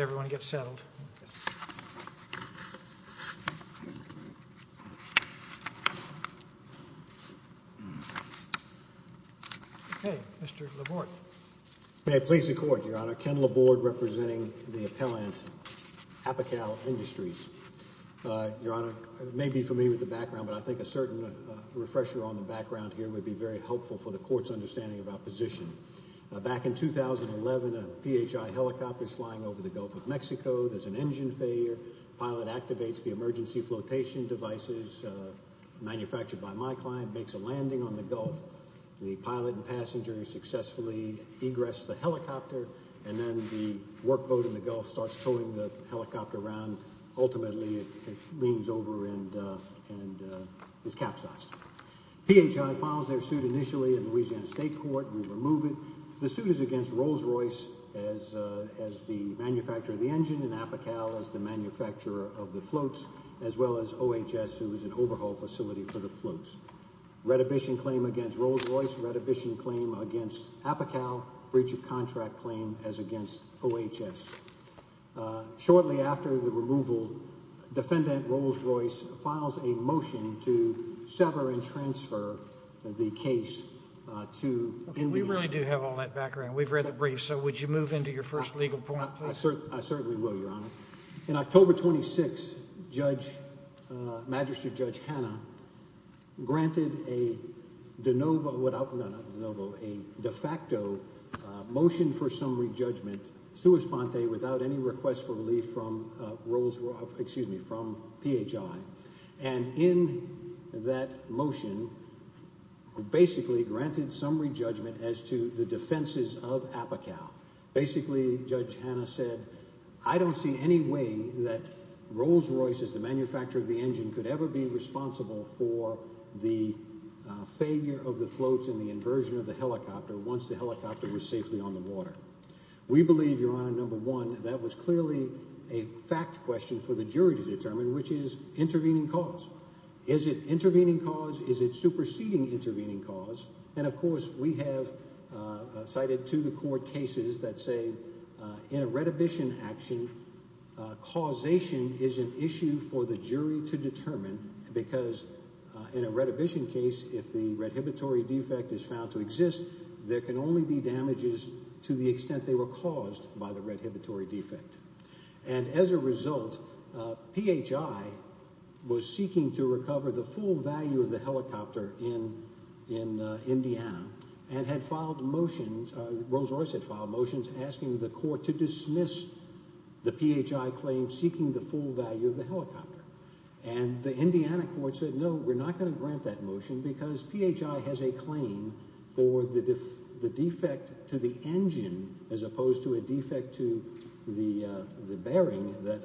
May I please the Court, Your Honor. Ken Laborde, representing the appellant, Apical Industries. Your Honor, you may be familiar with the background, but I think a certain refresher on the background here would be very helpful for the Court's understanding of our position. Back in 2011, a P H I helicopter is flying over the Gulf of Mexico. There's an engine failure. The pilot activates the emergency flotation devices manufactured by my client, makes a landing on the Gulf. The pilot and passenger successfully egress the helicopter, and then the work boat in the Gulf starts towing the helicopter around. Ultimately, it leans over and is capsized. P H I files their suit initially in Louisiana State Court. We remove it. The suit is against Rolls-Royce as the manufacturer of the engine and Apical as the manufacturer of the floats, as well as OHS, who is an overhaul facility for the floats. Redhibition claim against Rolls-Royce, redhibition claim against Apical, breach of contract claim as against OHS. Shortly after the removal, defendant Rolls-Royce files a motion to sever and transfer the case to India. We really do have all that background. We've read the brief, so would you move into your first legal point? I certainly will, Your Honor. In October 26, Magistrate Judge Hanna granted a de facto motion for summary judgment, sua sponte, without any request for relief from P H I. In that motion, we basically granted summary judgment as to the defenses of Apical. Basically, Judge Hanna said, I don't see any way that Rolls-Royce, as the manufacturer of the engine, could ever be responsible for the failure of the floats and the inversion of the helicopter once the helicopter was safely on the water. We believe, Your Honor, number one, that was clearly a fact question for the jury to determine, which is intervening cause. Is it intervening cause? Is it superseding intervening cause? Of course, we have cited to the court cases that say in a redhibition action, causation is an issue for the jury to determine because in a redhibition case, if the redhibitory defect is found to exist, there can only be damages to the extent they were caused by the P H I was seeking to recover the full value of the helicopter in Indiana and had filed motions, Rolls-Royce had filed motions asking the court to dismiss the P H I claim seeking the full value of the helicopter. And the Indiana court said, no, we're not going to grant that motion because P H I has a claim for the defect to the engine, as opposed to a defect to the bearing that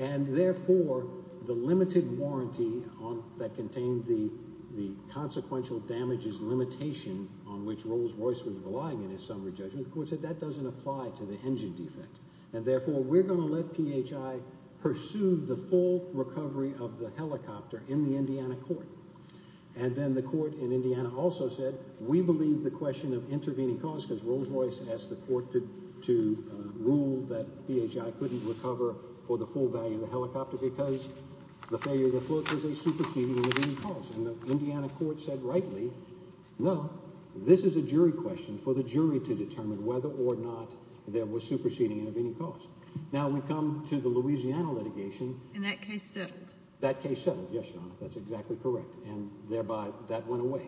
and therefore the limited warranty on that contained the consequential damages limitation on which Rolls-Royce was relying in his summary judgment, the court said that doesn't apply to the engine defect and therefore we're going to let P H I pursue the full recovery of the helicopter in the Indiana court. And then the court in Indiana also said, we believe the question of intervening cause because Rolls-Royce asked the court to rule that P H I couldn't recover for the full value of the helicopter because the failure of the float was a superseding of any cause. And the Indiana court said rightly, no, this is a jury question for the jury to determine whether or not there was superseding of any cause. Now when we come to the Louisiana litigation, that case settled. Yes, your honor, that's exactly correct. And thereby that went away.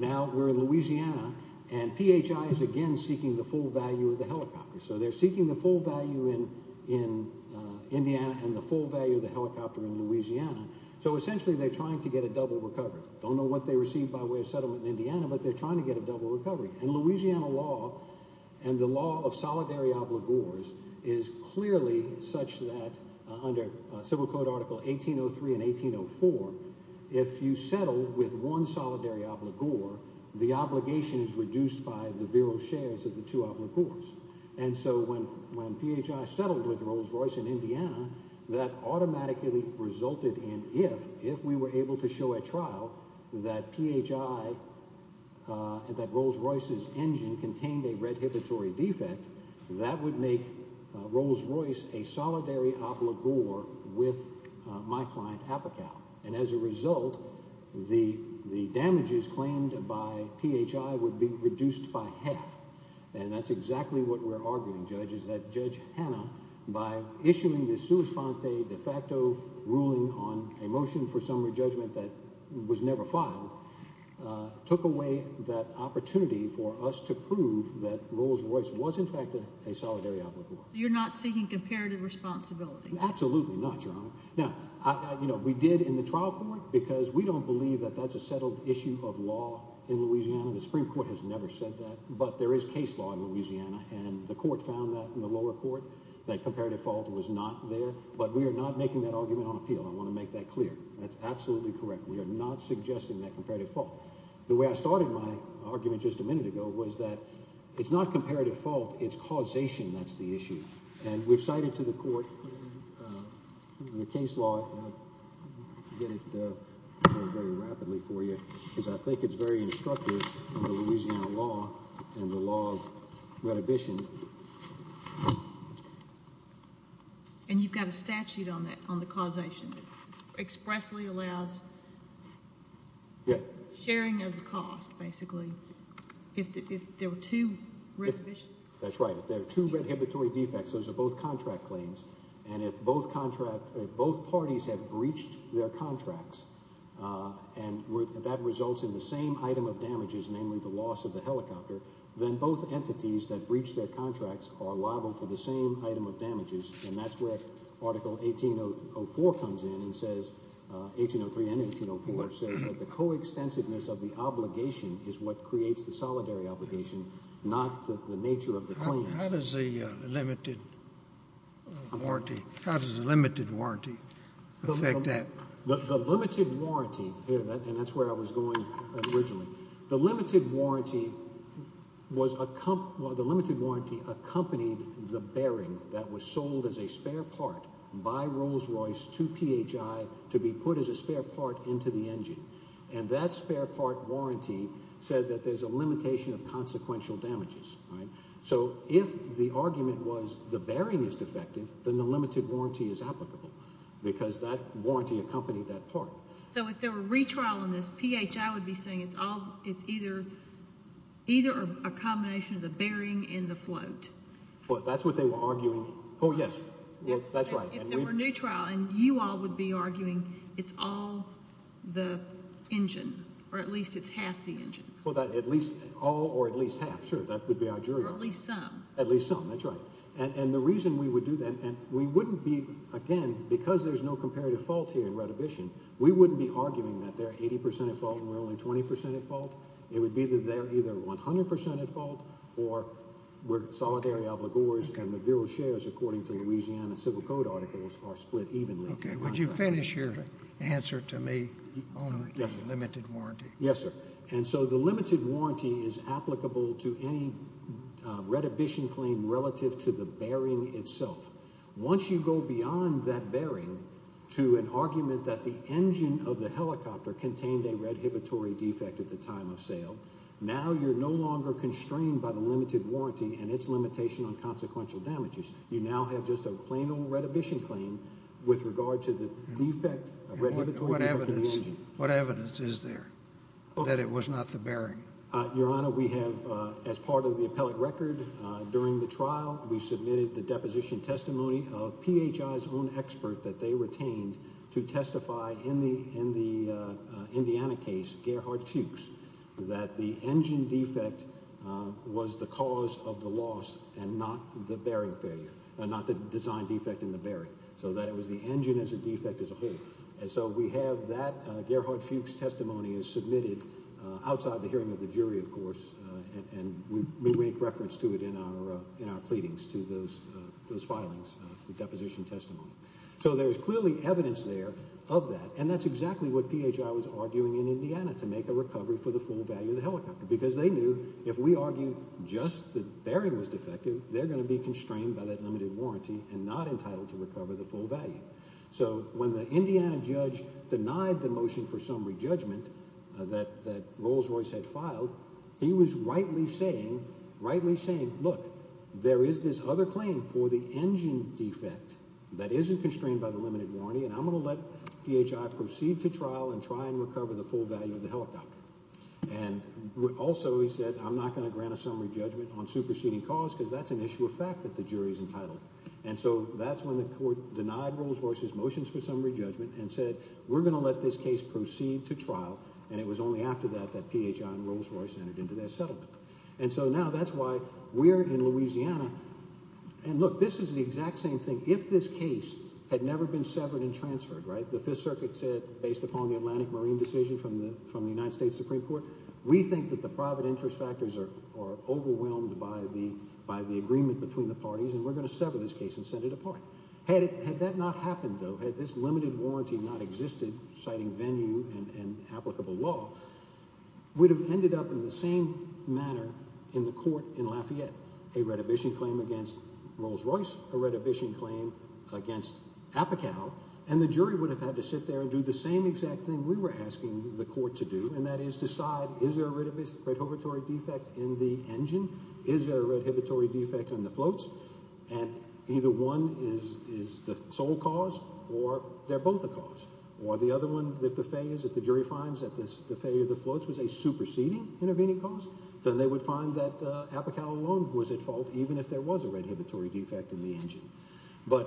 Now we're in Louisiana and P H I is again seeking the full value of the helicopter. So they're seeking the full value in Indiana and the full value of the helicopter in Louisiana. So essentially they're trying to get a double recovery. Don't know what they received by way of settlement in Indiana, but they're trying to get a double recovery. And Louisiana law and the law of solidary obligors is clearly such that under civil code article 1803 and 1804, if you settle with one solidary obligor, the obligation is reduced by the virile shares of two obligors. And so when, when P H I settled with Rolls Royce in Indiana, that automatically resulted in, if, if we were able to show a trial that P H I, uh, that Rolls Royce's engine contained a redhibitory defect that would make Rolls Royce a solidary obligor with my client Apical. And as a exactly what we're arguing judges that judge Hannah, by issuing the suicide de facto ruling on a motion for summary judgment that was never filed, uh, took away that opportunity for us to prove that Rolls Royce was in fact a solidary obligor. You're not seeking comparative responsibility. Absolutely not your honor. Now I, you know, we did in the trial court because we don't believe that that's a settled issue of law in Louisiana. The Supreme court has never said that, but there is case law in Louisiana. And the court found that in the lower court, that comparative fault was not there, but we are not making that argument on appeal. I want to make that clear. That's absolutely correct. We are not suggesting that comparative fault. The way I started my argument just a minute ago was that it's not comparative fault. It's causation. That's the issue. And we've cited to the court, uh, the case law, uh, get it, uh, very rapidly for you because I think it's very instructive of the Louisiana law and the law of rehabilitation. And you've got a statute on that, on the causation that expressly allows sharing of the cost, basically, if there were two rehabilitation. That's right. If there are two rehabilitory defects, those are both contract claims. And if both contract, both parties have their contracts, uh, and that results in the same item of damages, namely the loss of the helicopter, then both entities that breach their contracts are liable for the same item of damages. And that's where article 1804 comes in and says, uh, 1803 and 1804 says that the coextensiveness of the obligation is what creates the solidary obligation, not the nature of the claim. How does the, uh, limited warranty, how does the limited warranty affect that? The limited warranty here, and that's where I was going originally, the limited warranty was a comp, the limited warranty accompanied the bearing that was sold as a spare part by Rolls-Royce to PHI to be put as a spare part into the engine. And that spare part warranty said that there's a limitation of consequential damages, right? So if the argument was the bearing is defective, then the limited warranty is applicable because that warranty accompanied that part. So if there were a retrial on this, PHI would be saying it's all, it's either, either a combination of the bearing and the float. Well, that's what they were arguing. Oh yes, that's right. If there were a new trial, and you all would be arguing it's all the engine, or at least it's half the engine. Well, that at least all, or at least half. Sure, that would be our jury. Or at least some. At least some, that's right. And, and the reason we would do that, and we wouldn't be, again, because there's no comparative fault here in retribution, we wouldn't be arguing that they're 80% at fault and we're only 20% at fault. It would be that they're either 100% at fault or we're solidary obligors and the bureau shares, according to Louisiana civil code articles, are split evenly. Okay. Would you finish your answer to me on the limited warranty? Yes, sir. And so the limited warranty is applicable to any redhibition claim relative to the bearing itself. Once you go beyond that bearing to an argument that the engine of the helicopter contained a redhibitory defect at the time of sale, now you're no longer constrained by the limited warranty and its limitation on consequential damages. You now have just a plain old redhibition claim with regard to the defect. What evidence, what evidence is there that it was not the bearing? Your Honor, we have, as part of the appellate record during the trial, we submitted the deposition testimony of PHI's own expert that they retained to testify in the, in the Indiana case, Gerhard Fuchs, that the engine defect was the cause of the loss and not the bearing failure, not the design defect in the helicopter. And so we have that Gerhard Fuchs testimony is submitted outside the hearing of the jury, of course, and we make reference to it in our, in our pleadings to those, those filings, the deposition testimony. So there's clearly evidence there of that. And that's exactly what PHI was arguing in Indiana to make a recovery for the full value of the helicopter, because they knew if we argue just the bearing was defective, they're going to be constrained by that limited value. So when the Indiana judge denied the motion for summary judgment that, that Rolls-Royce had filed, he was rightly saying, rightly saying, look, there is this other claim for the engine defect that isn't constrained by the limited warranty. And I'm going to let PHI proceed to trial and try and recover the full value of the helicopter. And also he said, I'm not going to grant a summary judgment on superseding cause because that's an issue of fact that the jury's entitled. And so that's when the court denied Rolls-Royce's motions for summary judgment and said, we're going to let this case proceed to trial. And it was only after that, that PHI and Rolls-Royce entered into their settlement. And so now that's why we're in Louisiana. And look, this is the exact same thing. If this case had never been severed and transferred, right? The fifth circuit said, based upon the Atlantic Marine decision from the, from the United States Supreme Court, we think that the private interest factors are, are overwhelmed by the, by the agreement between the parties and we're going to sever this case and send it apart. Had it, had that not happened though, had this limited warranty not existed, citing venue and applicable law, we'd have ended up in the same manner in the court in Lafayette, a redhibition claim against Rolls-Royce, a redhibition claim against APICAL, and the jury would have had to sit there and do the same exact thing we were asking the court to do. And that is decide, is there a redhibitory defect in the engine? Is there a redhibitory defect in the floats? And either one is, is the sole cause or they're both a cause. Or the other one, if the phase, if the jury finds that this, the failure of the floats was a superseding intervening cause, then they would find that APICAL alone was at fault, even if there was a redhibitory defect in the engine. But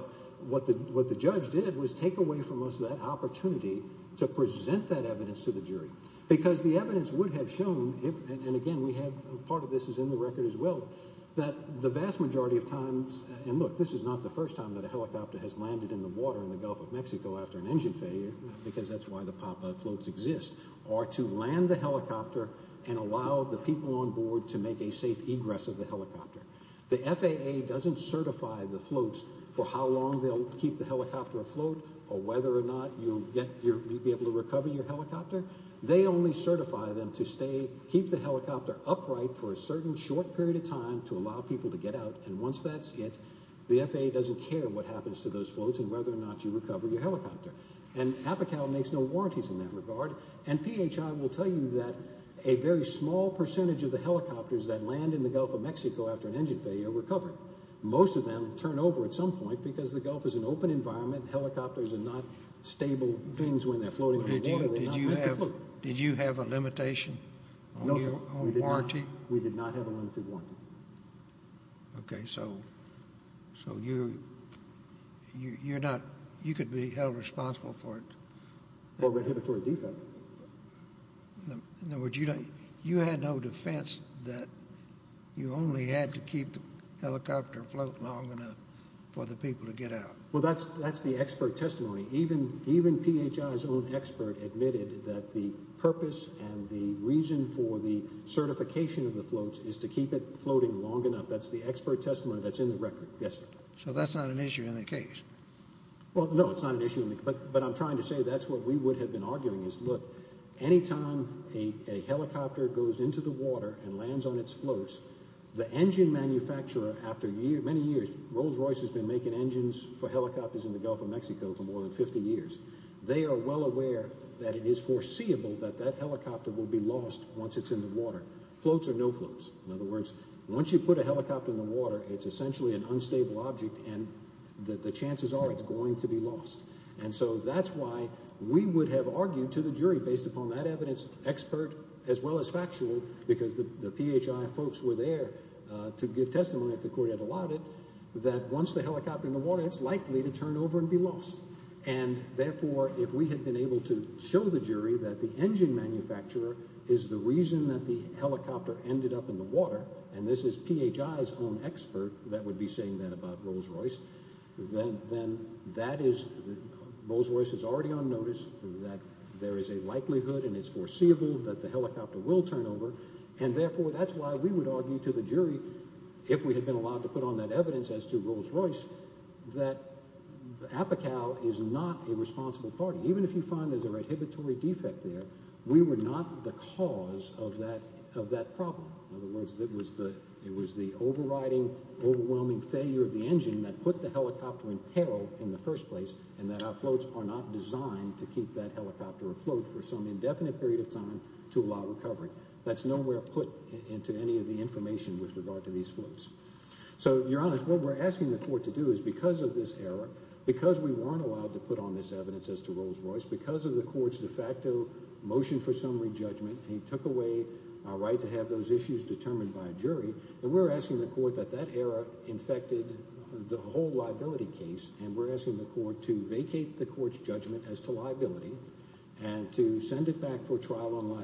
what the, what the judge did was take away from us that opportunity to present that evidence to the jury, because the evidence would have shown if, and again, we have, part of this is in the record as well, that the vast majority of times, and look, this is not the first time that a helicopter has landed in the water in the Gulf of Mexico after an engine failure, because that's why the pop-up floats exist, are to land the helicopter and allow the people on board to make a safe egress of the helicopter. The FAA doesn't certify the floats for how long they'll keep the helicopter. They only certify them to stay, keep the helicopter upright for a certain short period of time to allow people to get out. And once that's it, the FAA doesn't care what happens to those floats and whether or not you recover your helicopter. And APICAL makes no warranties in that regard. And PHI will tell you that a very small percentage of the helicopters that land in the Gulf of Mexico after an engine failure recover. Most of them turn over at some point because the Gulf is an open environment. Helicopters are not stable things when they're floating in the water. Did you have a limitation on warranty? No, we did not have a limited warranty. Okay, so you could be held responsible for it. Well, we're here for a defense. In other words, you had no defense that you only had to keep the helicopter float long enough for the people to get out. Well, that's the expert that the purpose and the reason for the certification of the floats is to keep it floating long enough. That's the expert testimony that's in the record. Yes, sir. So that's not an issue in the case. Well, no, it's not an issue. But I'm trying to say that's what we would have been arguing is, look, any time a helicopter goes into the water and lands on its floats, the engine manufacturer, after many years, Rolls-Royce has been making engines for helicopters in the Gulf of Mexico for more than 50 years. They are well aware that it is foreseeable that that helicopter will be lost once it's in the water. Floats are no floats. In other words, once you put a helicopter in the water, it's essentially an unstable object and that the chances are it's going to be lost. And so that's why we would have argued to the jury based upon that evidence expert as well as factual because the PHI folks were there to give testimony that the court had allowed it, that once the helicopter in the water, it's likely to turn over and be lost. And therefore, if we had been able to show the jury that the engine manufacturer is the reason that the helicopter ended up in the water, and this is PHI's own expert that would be saying that about Rolls-Royce, then that is Rolls-Royce is already on notice that there is a likelihood and it's foreseeable that the helicopter will turn over. And therefore, that's why we would have argued to the jury if we had been allowed to put on that evidence as to Rolls-Royce, that APICAL is not a responsible party. Even if you find there's a rehabilitory defect there, we were not the cause of that problem. In other words, it was the overriding, overwhelming failure of the engine that put the helicopter in peril in the first place and that our floats are not designed to keep that helicopter afloat for some indefinite period of time to allow recovery. That's nowhere put into any of the information with regard to these floats. So you're honest, what we're asking the court to do is because of this error, because we weren't allowed to put on this evidence as to Rolls-Royce, because of the court's de facto motion for summary judgment, he took away our right to have those issues determined by a jury, and we're asking the court that that error infected the whole liability case, and we're asking the court to vacate the court's judgment as to liability and to send it back for our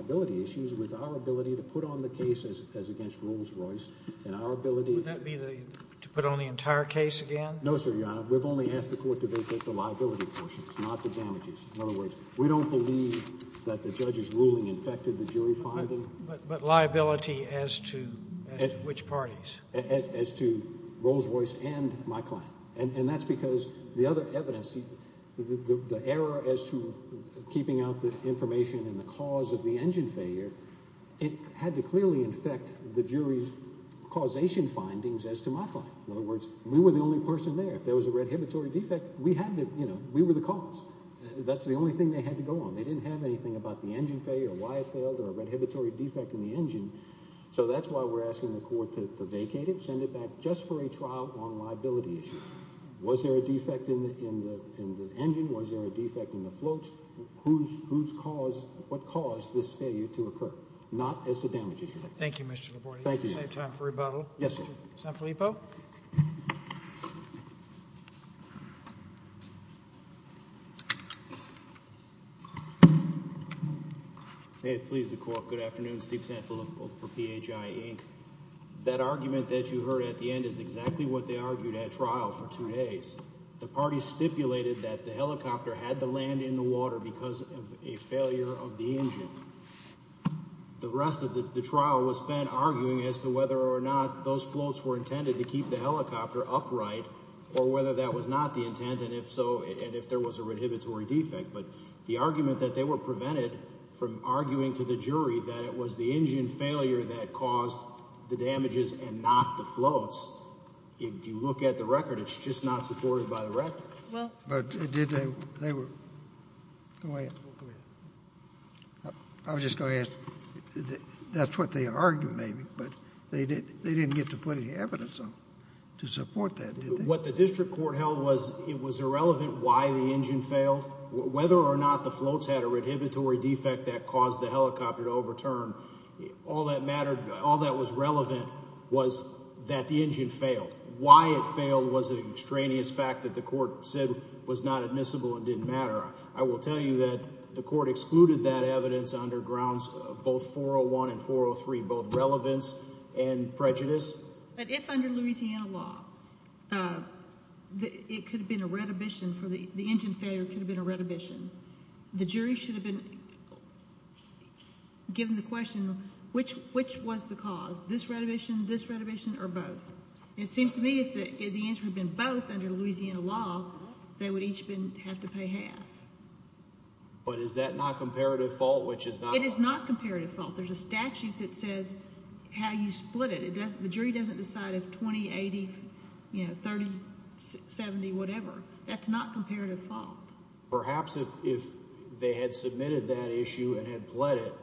ability to put on the case as against Rolls-Royce and our ability... Would that be to put on the entire case again? No, sir, your honor. We've only asked the court to vacate the liability portions, not the damages. In other words, we don't believe that the judge's ruling infected the jury finding. But liability as to which parties? As to Rolls-Royce and my client. And that's because the other evidence, the error as to keeping out the information and the cause of the engine failure, it had to clearly infect the jury's causation findings as to my client. In other words, we were the only person there. If there was a redhibitory defect, we had to, you know, we were the cause. That's the only thing they had to go on. They didn't have anything about the engine failure or why it failed or a redhibitory defect in the engine. So that's why we're asking the court to vacate it, send it back just for a trial on liability issues. Was there a defect in the engine? Was there a defect in the floats? Who's caused, what caused this failure to occur? Not as to damages. Thank you, Mr. Laborte. We have time for rebuttal. Yes, sir. Sanfilippo. May it please the court. Good afternoon. Steve Sanfilippo for PHI, Inc. That argument that you heard at the end is exactly what they argued at trial for two days. The party stipulated that the helicopter had to land in the water because of a failure of the engine. The rest of the trial was spent arguing as to whether or not those floats were intended to keep the helicopter upright or whether that was not the intent, and if so, and if there was a redhibitory defect. But the argument that they were prevented from arguing to the jury that it was the engine failure that caused the damages and not the floats, if you look at the record, it's just not supported by the record. Well, but did they, they were, go ahead. I was just going to ask, that's what they argued maybe, but they didn't get to put any evidence on to support that, did they? What the district court held was it was irrelevant why the engine failed, whether or not the floats had a redhibitory defect that caused the helicopter to overturn. All that mattered, all that was relevant was that the engine failed. Why it failed was an extraneous fact that the court said was not admissible and didn't matter. I will tell you that the court excluded that evidence under grounds of both 401 and 403, both relevance and prejudice. But if under Louisiana law, it could have been a redhibition for the, the engine failure could have been, the jury should have been given the question, which, which was the cause, this redhibition, this redhibition, or both? It seems to me if the, if the answer had been both under Louisiana law, they would each been, have to pay half. But is that not comparative fault, which is not? It is not comparative fault. There's a statute that says how you split it. It doesn't, the jury doesn't decide if 20, 80, you know, 30, 70, whatever. That's not comparative fault. Perhaps if, if they had submitted that issue and had pled it,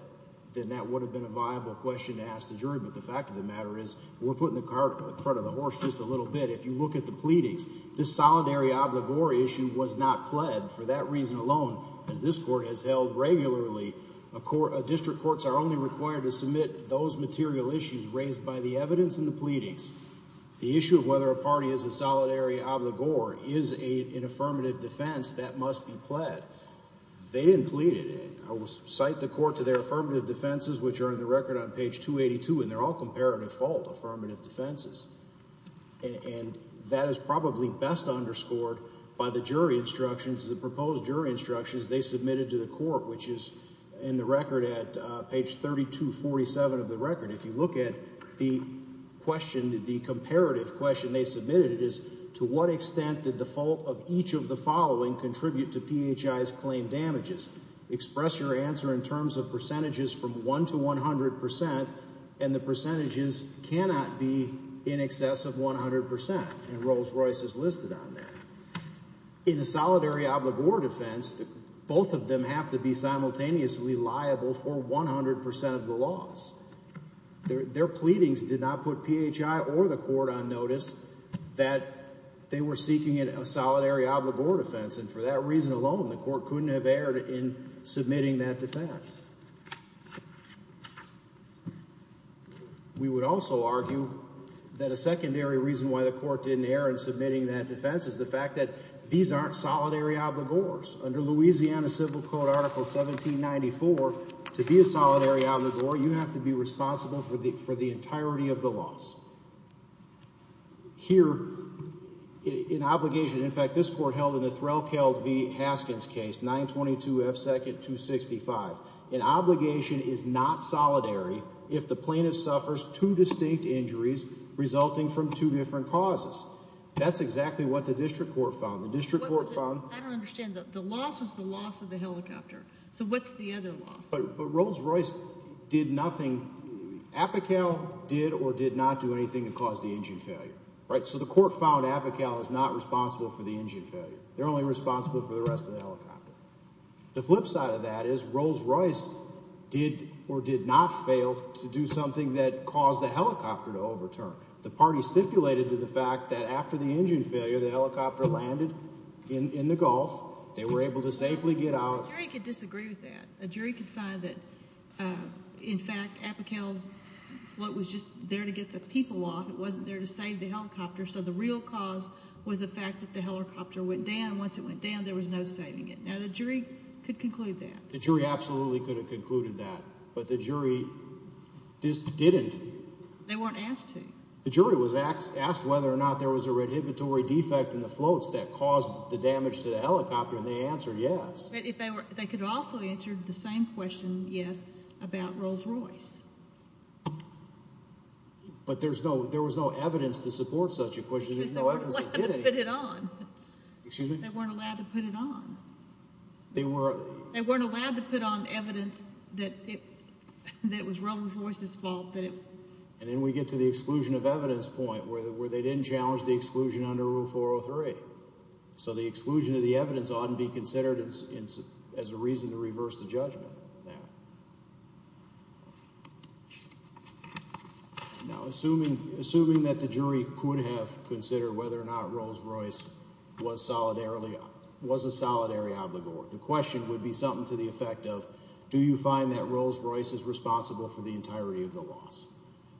then that would have been a viable question to ask the jury. But the fact of the matter is, we're putting the cart in front of the horse just a little bit. If you look at the pleadings, this solidary obligor issue was not pled. For that reason alone, as this court has held regularly, a court, district courts are only required to submit those material issues raised by the evidence in the pleadings. The issue of whether a party is a solidary obligor is a, an affirmative defense that must be pled. They didn't plead it. I will cite the court to their affirmative defenses, which are in the record on page 282, and they're all comparative fault affirmative defenses. And that is probably best underscored by the jury instructions, the proposed jury instructions they submitted to the court, which is in the record at page 3247 of the record. If you look at the question, the comparative question they submitted, it is to what extent did the fault of each of the following contribute to PHI's claim damages? Express your answer in terms of percentages from 1 to 100 percent, and the percentages cannot be in excess of 100 percent, and Rolls-Royce is listed on there. In a solidary obligor defense, both of them have to be simultaneously liable for 100 percent of the loss. Their, their pleadings did not put PHI or the solidary obligor defense, and for that reason alone, the court couldn't have erred in submitting that defense. We would also argue that a secondary reason why the court didn't err in submitting that defense is the fact that these aren't solidary obligors. Under Louisiana Civil Code Article 1794, to be a solidary obligor, you have to be responsible for the, for the entirety of the loss. Here, in obligation, in fact, this court held in the Threlkeld v. Haskins case, 922 F. 2nd, 265. An obligation is not solidary if the plaintiff suffers two distinct injuries resulting from two different causes. That's exactly what the district court found. The district court found... I don't understand. The loss was the loss of the helicopter, so what's the other loss? But Rolls-Royce did nothing. Apical did or did not do anything to cause the engine failure, right? So the court found Apical is not responsible for the engine failure. They're only responsible for the rest of the helicopter. The flip side of that is Rolls-Royce did or did not fail to do something that caused the helicopter to overturn. The party stipulated to the fact that after the engine failure, the helicopter landed in, in the Gulf. They were able to safely get out. A jury could disagree with that. A jury could find that, in fact, Apical's float was just there to get the people off. It wasn't there to save the helicopter, so the real cause was the fact that the helicopter went down. Once it went down, there was no saving it. Now, the jury could conclude that. The jury absolutely could have concluded that, but the jury just didn't. They weren't asked to. The jury was asked whether or not there was a rehabilitory defect in the floats that caused the damage to the helicopter, and they answered yes. They could have also answered the same question, yes, about Rolls-Royce. But there's no, there was no evidence to support such a question. They weren't allowed to put it on. They weren't allowed to put on evidence that it, that it was Rolls-Royce's fault. And then we get to the exclusion of evidence point where they didn't challenge the exclusion under Rule 403, so the exclusion of the evidence oughtn't be considered as a reason to reverse the judgment on that. Now, assuming, assuming that the jury could have considered whether or not Rolls-Royce was solidarily, was a solidary obligor, the question would be something to the effect of, do you find that Rolls-Royce is responsible for the entirety of the loss?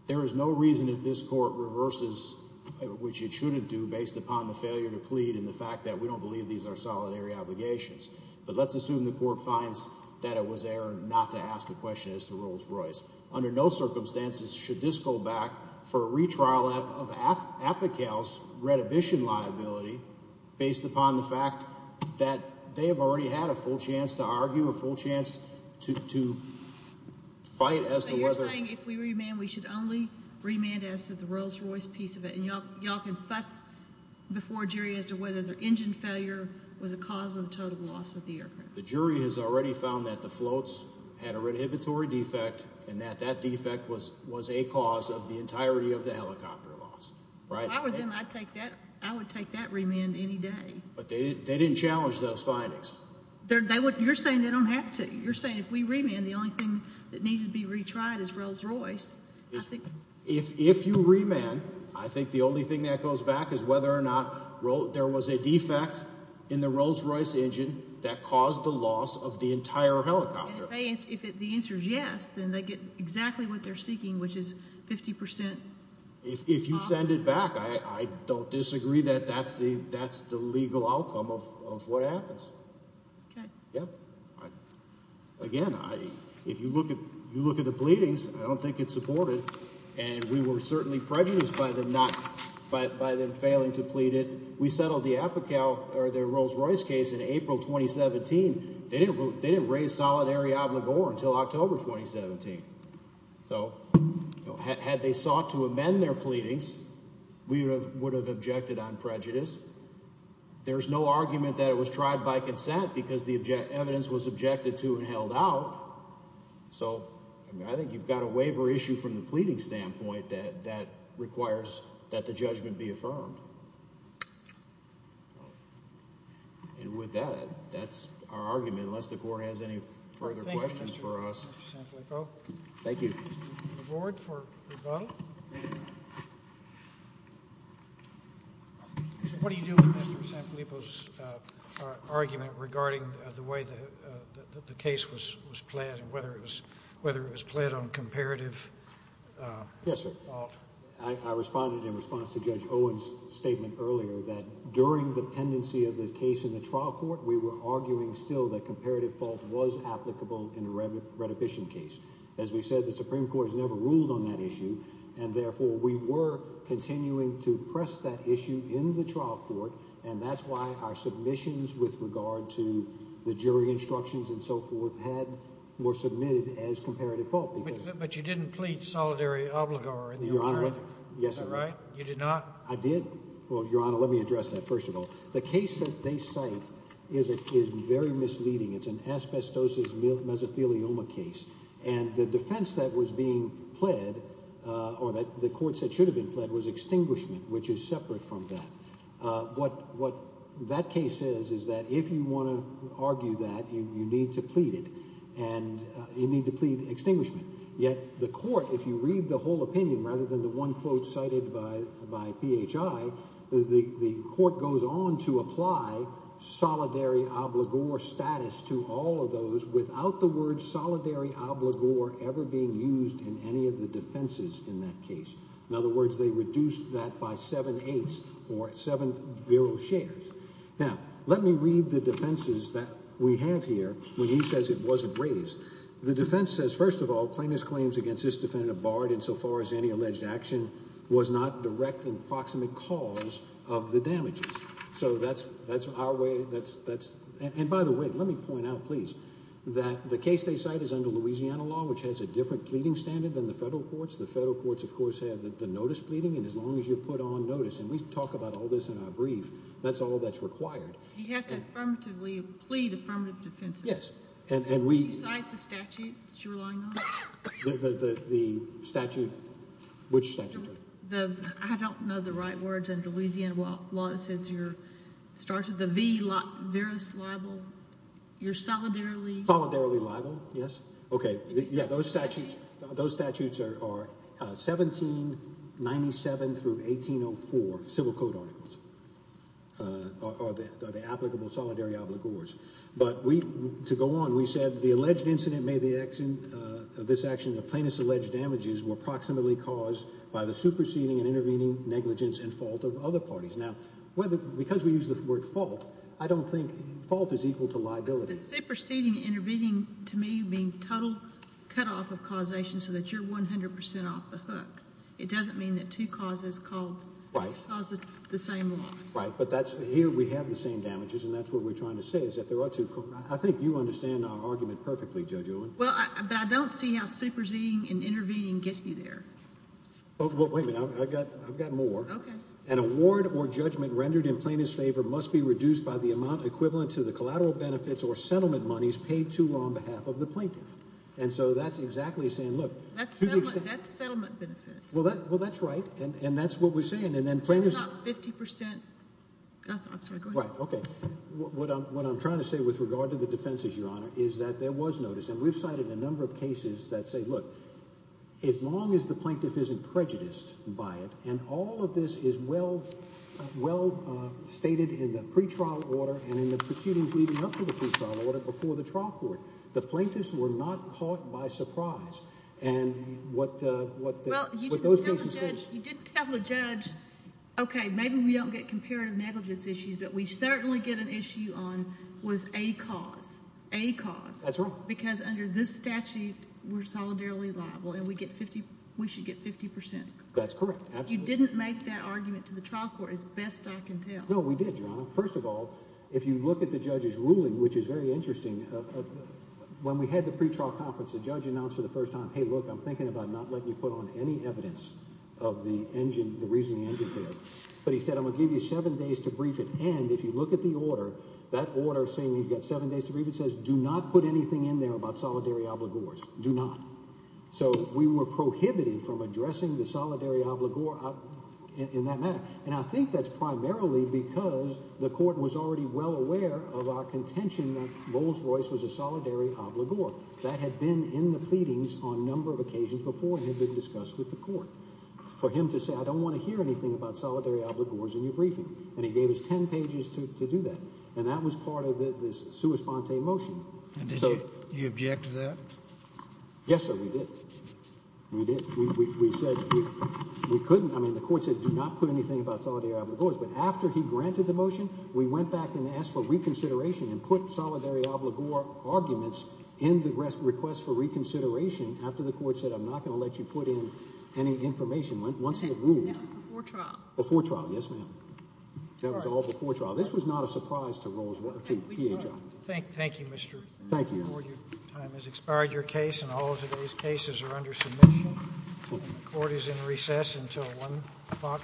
There is no reason if this court reverses, which it shouldn't do, based upon the failure to plead in the fact that we don't believe these are solidary obligations. But let's assume the court finds that it was error not to ask the question as to Rolls-Royce. Under no circumstances should this go back for a retrial of APICAL's reddition liability based upon the fact that they have already had a full chance to argue, a full chance to, to fight as to whether, you're saying if we remand, we should only remand as to the Rolls-Royce piece of it. And y'all, y'all can fuss before a jury as to whether their engine failure was a cause of the total loss of the aircraft. The jury has already found that the floats had a inhibitory defect and that that defect was, was a cause of the entirety of the helicopter loss, right? I would then, I'd take that, I would take that remand any day. But they didn't, they didn't challenge those findings. They're, they wouldn't, you're saying they don't have to. You're saying if we remand, the only thing that needs to be retried is Rolls-Royce. If, if you remand, I think the only thing that goes back is whether or not there was a defect in the Rolls-Royce engine that caused the loss of the entire helicopter. And if the answer is yes, then they get exactly what they're seeking, which is 50%. If you send it back, I don't disagree that that's the, that's the legal outcome of what happens. Okay. Again, I, if you look at, you look at the pleadings, I don't think it's supported. And we were certainly prejudiced by them not, by, by them failing to plead it. We settled the APICAL or the Rolls-Royce case in April, 2017. They didn't, they didn't raise solidary obligor until October, 2017. So had they sought to amend their pleadings, we would have, would have objected on prejudice. There's no argument that it was tried by consent because the object, evidence was objected to and held out. So I think you've got a waiver issue from the pleading standpoint that, that requires that the judgment be affirmed. And with that, that's our argument, unless the court has any further questions for us. Thank you. The board for rebuttal. What do you do with Mr. Sanfilippo's argument regarding the way that the case was, was pled and whether it was, whether it was pled on comparative fault? Yes, sir. I, I responded in response to Judge Owen's statement earlier that during the pendency of the case in the trial court, we were arguing still that comparative fault was applicable in a retribution case. As we said, the Supreme Court has never ruled on that issue. And therefore we were continuing to press that issue in the trial court. And that's why our submissions with regard to the jury instructions and so forth had, were submitted as comparative fault. But you didn't plead solidary obligor. Yes, sir. Right. You did not. I did. Well, Your Honor, let me address that. First of all, the case that they cite is a, is very misleading. It's an asbestosis mesothelioma case. And the defense that was being pled or that the courts that should have been pled was extinguishment, which is separate from that. What, what that case is, is that if you want to argue that you need to plead it and you need to plead extinguishment. Yet the court, if you read the whole opinion, rather than the one quote cited by, by PHI, the court goes on to apply solidary obligor status to all of those without the word solidary obligor ever being used in any of the defenses in that case. In other words, they reduced that by seven eighths or seven zero shares. Now let me read the defenses that we have here when he says it wasn't raised. The defense says, first of all, plaintiff's claims against defendant of Bard in so far as any alleged action was not direct and proximate cause of the damages. So that's, that's our way. That's, that's, and by the way, let me point out, please, that the case they cite is under Louisiana law, which has a different pleading standard than the federal courts. The federal courts, of course, have the notice pleading. And as long as you put on notice and we talk about all this in our brief, that's all that's required. You have to affirmatively the statute, which statute? I don't know the right words under Louisiana law. It says you're started the v. veris libel. You're solidarily. Solidarily libel. Yes. Okay. Yeah. Those statutes, those statutes are 1797 through 1804 civil code articles, uh, are the, are the applicable solidary obligors. But we, to go on, we said the alleged incident made the action, uh, this action of plaintiff's alleged damages were proximately caused by the superseding and intervening negligence and fault of other parties. Now, whether, because we use the word fault, I don't think fault is equal to liability superseding intervening to me being total cutoff of causation so that you're 100% off the hook. It doesn't mean that two causes called the same loss, right? But that's here. We have the same damages. And that's what we're trying to say is that there are two. I think you understand our argument perfectly. Judge Owen. Well, I don't see how superseding and intervening get you there. Oh, well, wait a minute. I've got, I've got more. Okay. An award or judgment rendered in plaintiff's favor must be reduced by the amount equivalent to the collateral benefits or settlement monies paid to on behalf of the plaintiff. And so that's exactly saying, look, that's, that's settlement benefits. Well, that, well, that's right. And that's what we're saying. And then plaintiff's 50%. I'm sorry. Go ahead. Okay. What I'm, what I'm trying to say with regard to the defenses, is that there was notice and we've cited a number of cases that say, look, as long as the plaintiff isn't prejudiced by it, and all of this is well, well, uh, stated in the pretrial order and in the proceedings leading up to the trial order before the trial court, the plaintiffs were not caught by surprise. And what, uh, what, you didn't tell the judge, okay, maybe we don't get comparative negligence issues, but we certainly get an issue on was a cause, a cause. That's right. Because under this statute, we're solidarily liable and we get 50, we should get 50%. That's correct. Absolutely. You didn't make that argument to the trial court is best I can tell. No, we did, Your Honor. First of all, if you look at the judge's ruling, which is very interesting, when we had the pretrial conference, the judge announced for the first time, hey, look, I'm thinking about not letting you put on any evidence of the engine, the reasoning engine failure. But he said, I'm gonna give you seven days to brief it. And if you look at the order, that order saying you've got seven days to brief, it says, do not put anything in there about solidary obligors. Do not. So we were prohibited from addressing the solidary obligor in that matter. And I think that's primarily because the court was already well aware of our contention that Bowles-Royce was a solidary obligor that had been in the pleadings on a number of occasions before and had been discussed with the court for him to say, I don't want to hear anything about solidary obligors in your briefing. And he gave us 10 days to do that. And that was part of this sua sponte motion. And so you object to that? Yes, sir. We did. We did. We said we couldn't. I mean, the court said do not put anything about solidary obligors. But after he granted the motion, we went back and asked for reconsideration and put solidary obligor arguments in the request for reconsideration after the court said, I'm not going to let you put in any information once it ruled. Before trial. Before trial. Yes, ma'am. That was all before trial. This was not a surprise to DHI. Thank you, Mr. Ward. Your time has expired. Your case and all of today's cases are under submission. Court is in recess until 1 o'clock.